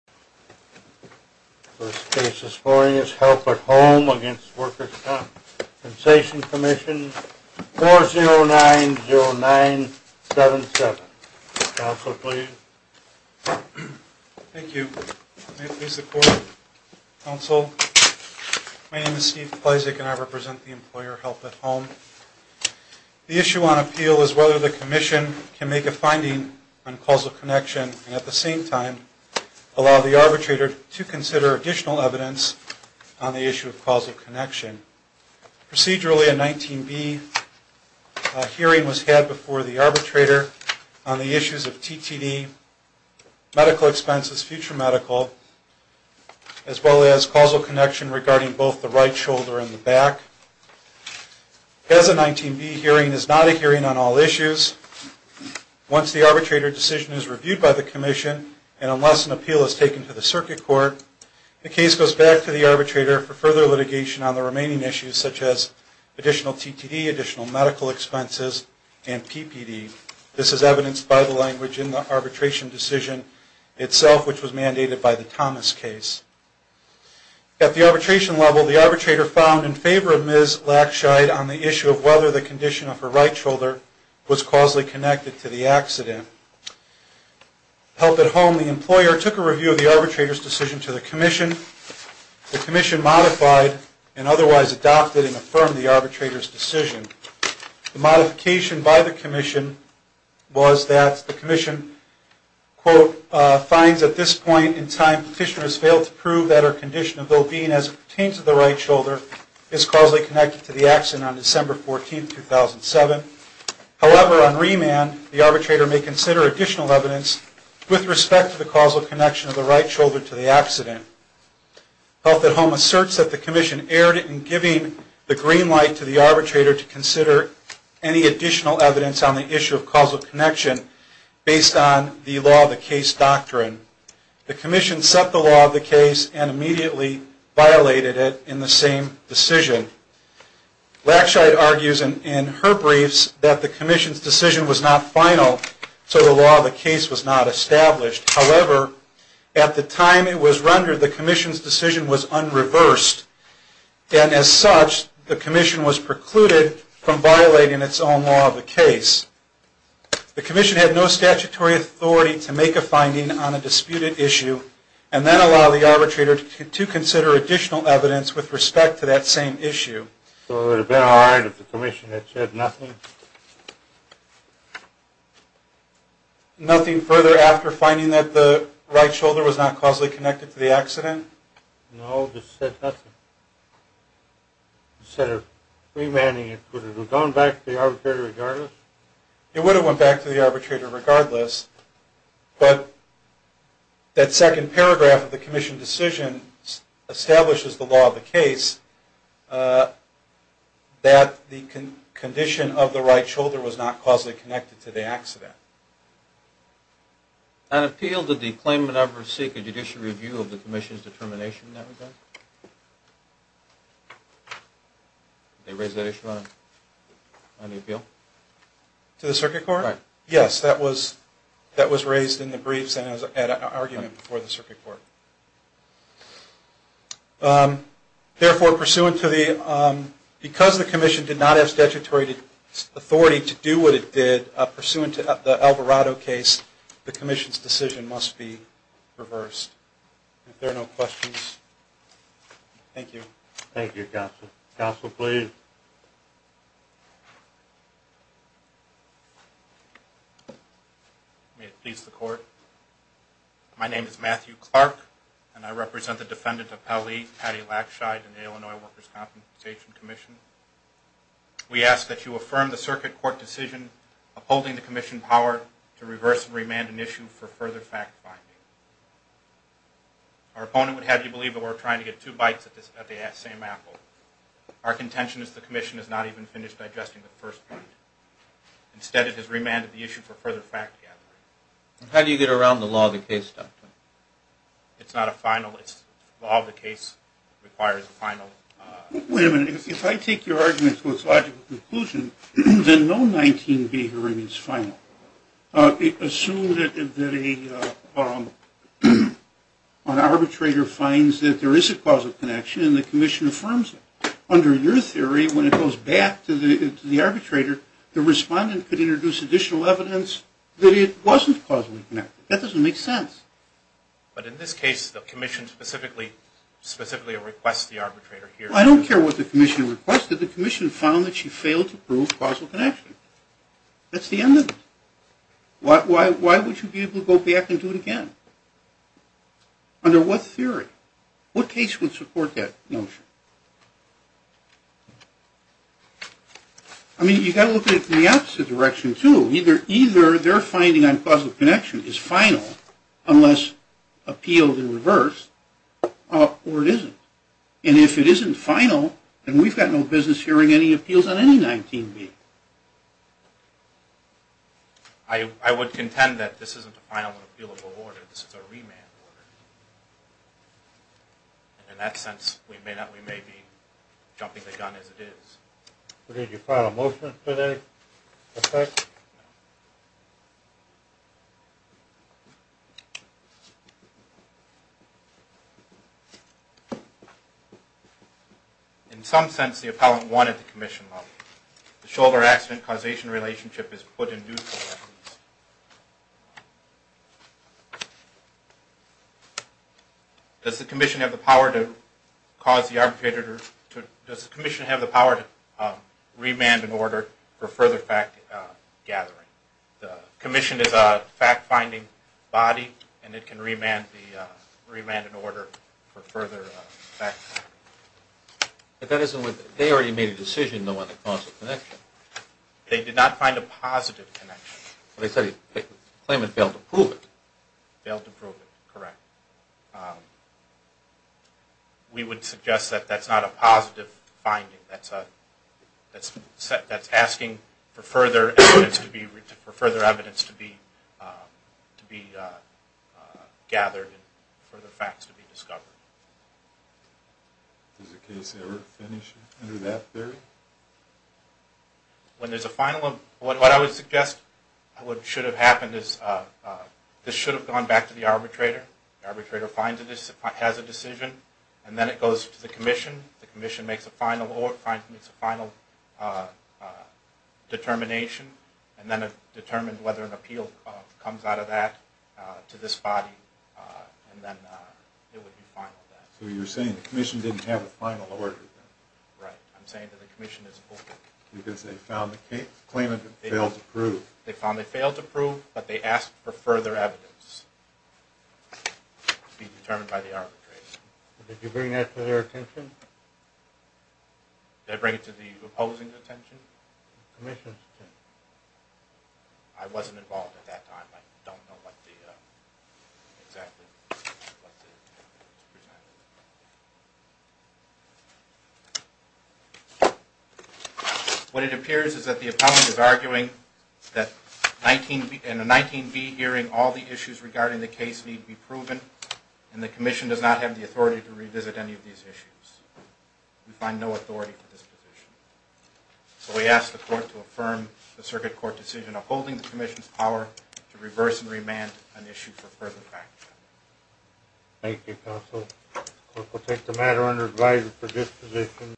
First case this morning is Help at Home v. The Workers' Compensation Commission, 4090977. Counselor, please. Thank you. May it please the Court. Counsel, my name is Steve Pleszek and I represent the employer Help at Home. The issue on appeal is whether the Commission can make a finding on causal connection and at the same time allow the arbitrator to consider additional evidence on the issue of causal connection. Procedurally, a 19B hearing was had before the arbitrator on the issues of TTD, medical expenses, future medical, as well as causal connection regarding both the right shoulder and the back. As a 19B hearing is not a hearing on all issues, once the arbitrator decision is reviewed by the Commission and unless an appeal is taken to the Circuit Court, the case goes back to the arbitrator for further litigation on the remaining issues such as additional TTD, additional medical expenses, and PPD. This is evidenced by the language in the arbitration decision itself, which was mandated by the Thomas case. At the arbitration level, the arbitrator found in favor of Ms. Lackscheid on the issue of whether the condition of her right shoulder was causally connected to the accident. Help at Home, the employer took a review of the arbitrator's decision to the Commission. The Commission modified and otherwise adopted and affirmed the arbitrator's decision. The modification by the Commission was that the Commission, quote, finds at this point in time petitioners failed to prove that her condition of though being as it pertains to the right shoulder is causally connected to the accident on December 14, 2007. However, on remand, the arbitrator may consider additional evidence with respect to the causal connection of the right shoulder to the accident. Help at Home asserts that the Commission erred in giving the green light to the arbitrator to consider any additional evidence on the issue of causal connection based on the law of the case doctrine. The Commission set the law of the case and immediately violated it in the same decision. Lackscheid argues in her briefs that the Commission's decision was not final, so the law of the case was not established. However, at the time it was rendered, the Commission's decision was unreversed, and as such, the Commission was precluded from violating its own law of the case. The Commission had no statutory authority to make a finding on a disputed issue and then allow the arbitrator to consider additional evidence with respect to that same issue. Nothing further after finding that the right shoulder was not causally connected to the accident? It would have went back to the arbitrator regardless, but that second paragraph of the Commission's decision establishes the law of the case that the condition of the right shoulder was not causally connected to the accident. On appeal, did the claimant ever seek a judicial review of the Commission's determination? To the Circuit Court? Yes, that was raised in the briefs and in an argument before the Circuit Court. Therefore, because the Commission did not have statutory authority to do what it did, pursuant to the Alvarado case, the Commission's decision must be reversed. If there are no questions, thank you. Thank you, Counsel. Counsel, please. May it please the Court. My name is Matthew Clark, and I represent the Defendant Appellee Patti Lackscheid in the Illinois Workers' Compensation Commission. We ask that you affirm the Circuit Court decision upholding the Commission power to reverse and remand an issue for further fact-finding. Our opponent would have you believe that we're trying to get two bites at the same apple. Our contention is that the Commission has not even finished digesting the first point. Instead, it has remanded the issue for further fact-gathering. How do you get around the law of the case, Doctor? It's not a final. The law of the case requires a final. Wait a minute. If I take your argument to its logical conclusion, then no 19B here remains final. Assume that an arbitrator finds that there is a causal connection, and the Commission affirms it. Under your theory, when it goes back to the arbitrator, the respondent could introduce additional evidence that it wasn't causally connected. That doesn't make sense. But in this case, the Commission specifically requests the arbitrator here... I don't care what the Commission requested. The Commission found that she failed to prove causal connection. That's the end of it. Why would you be able to go back and do it again? Under what theory? What case would support that notion? I mean, you've got to look at it from the opposite direction, too. Either their finding on causal connection is final, unless appealed in reverse, or it isn't. And if it isn't final, then we've got no business hearing any appeals on any 19B. I would contend that this isn't a final appealable order. This is a remand order. In that sense, we may be jumping the gun as it is. Did you file a motion today? In some sense, the appellant wanted the Commission money. The shoulder accident causation relationship is put in due course. Does the Commission have the power to cause the arbitrator to... Does the Commission have the power to remand an order for further fact gathering? The Commission is a fact-finding body, and it can remand an order for further fact-finding. But that isn't what... They already made a decision, though, on the causal connection. They did not find a positive connection. They said the claimant failed to prove it. Failed to prove it. Correct. We would suggest that that's not a positive finding. That's asking for further evidence to be gathered and further facts to be discovered. Does the case ever finish under that theory? When there's a final... What I would suggest... What should have happened is... This should have gone back to the arbitrator. The arbitrator has a decision, and then it goes to the Commission. The Commission makes a final determination, and then it determines whether an appeal comes out of that to this body, and then it would be final. So you're saying the Commission didn't have a final order, then? Right. I'm saying that the Commission is open. Because they found the claimant failed to prove. They found they failed to prove, but they asked for further evidence to be determined by the arbitrator. Did you bring that to their attention? Did I bring it to the opposing's attention? The Commission's attention. I wasn't involved at that time. I don't know what the... exactly what the... What it appears is that the appellant is arguing that in a 19B hearing, all the issues regarding the case need to be proven, and the Commission does not have the authority to revisit any of these issues. We find no authority for this position. So we ask the Court to affirm the Circuit Court decision upholding the Commission's power to reverse and remand an issue for further fact-checking. Thank you, Counsel. The Court will take the matter under advisory for this position.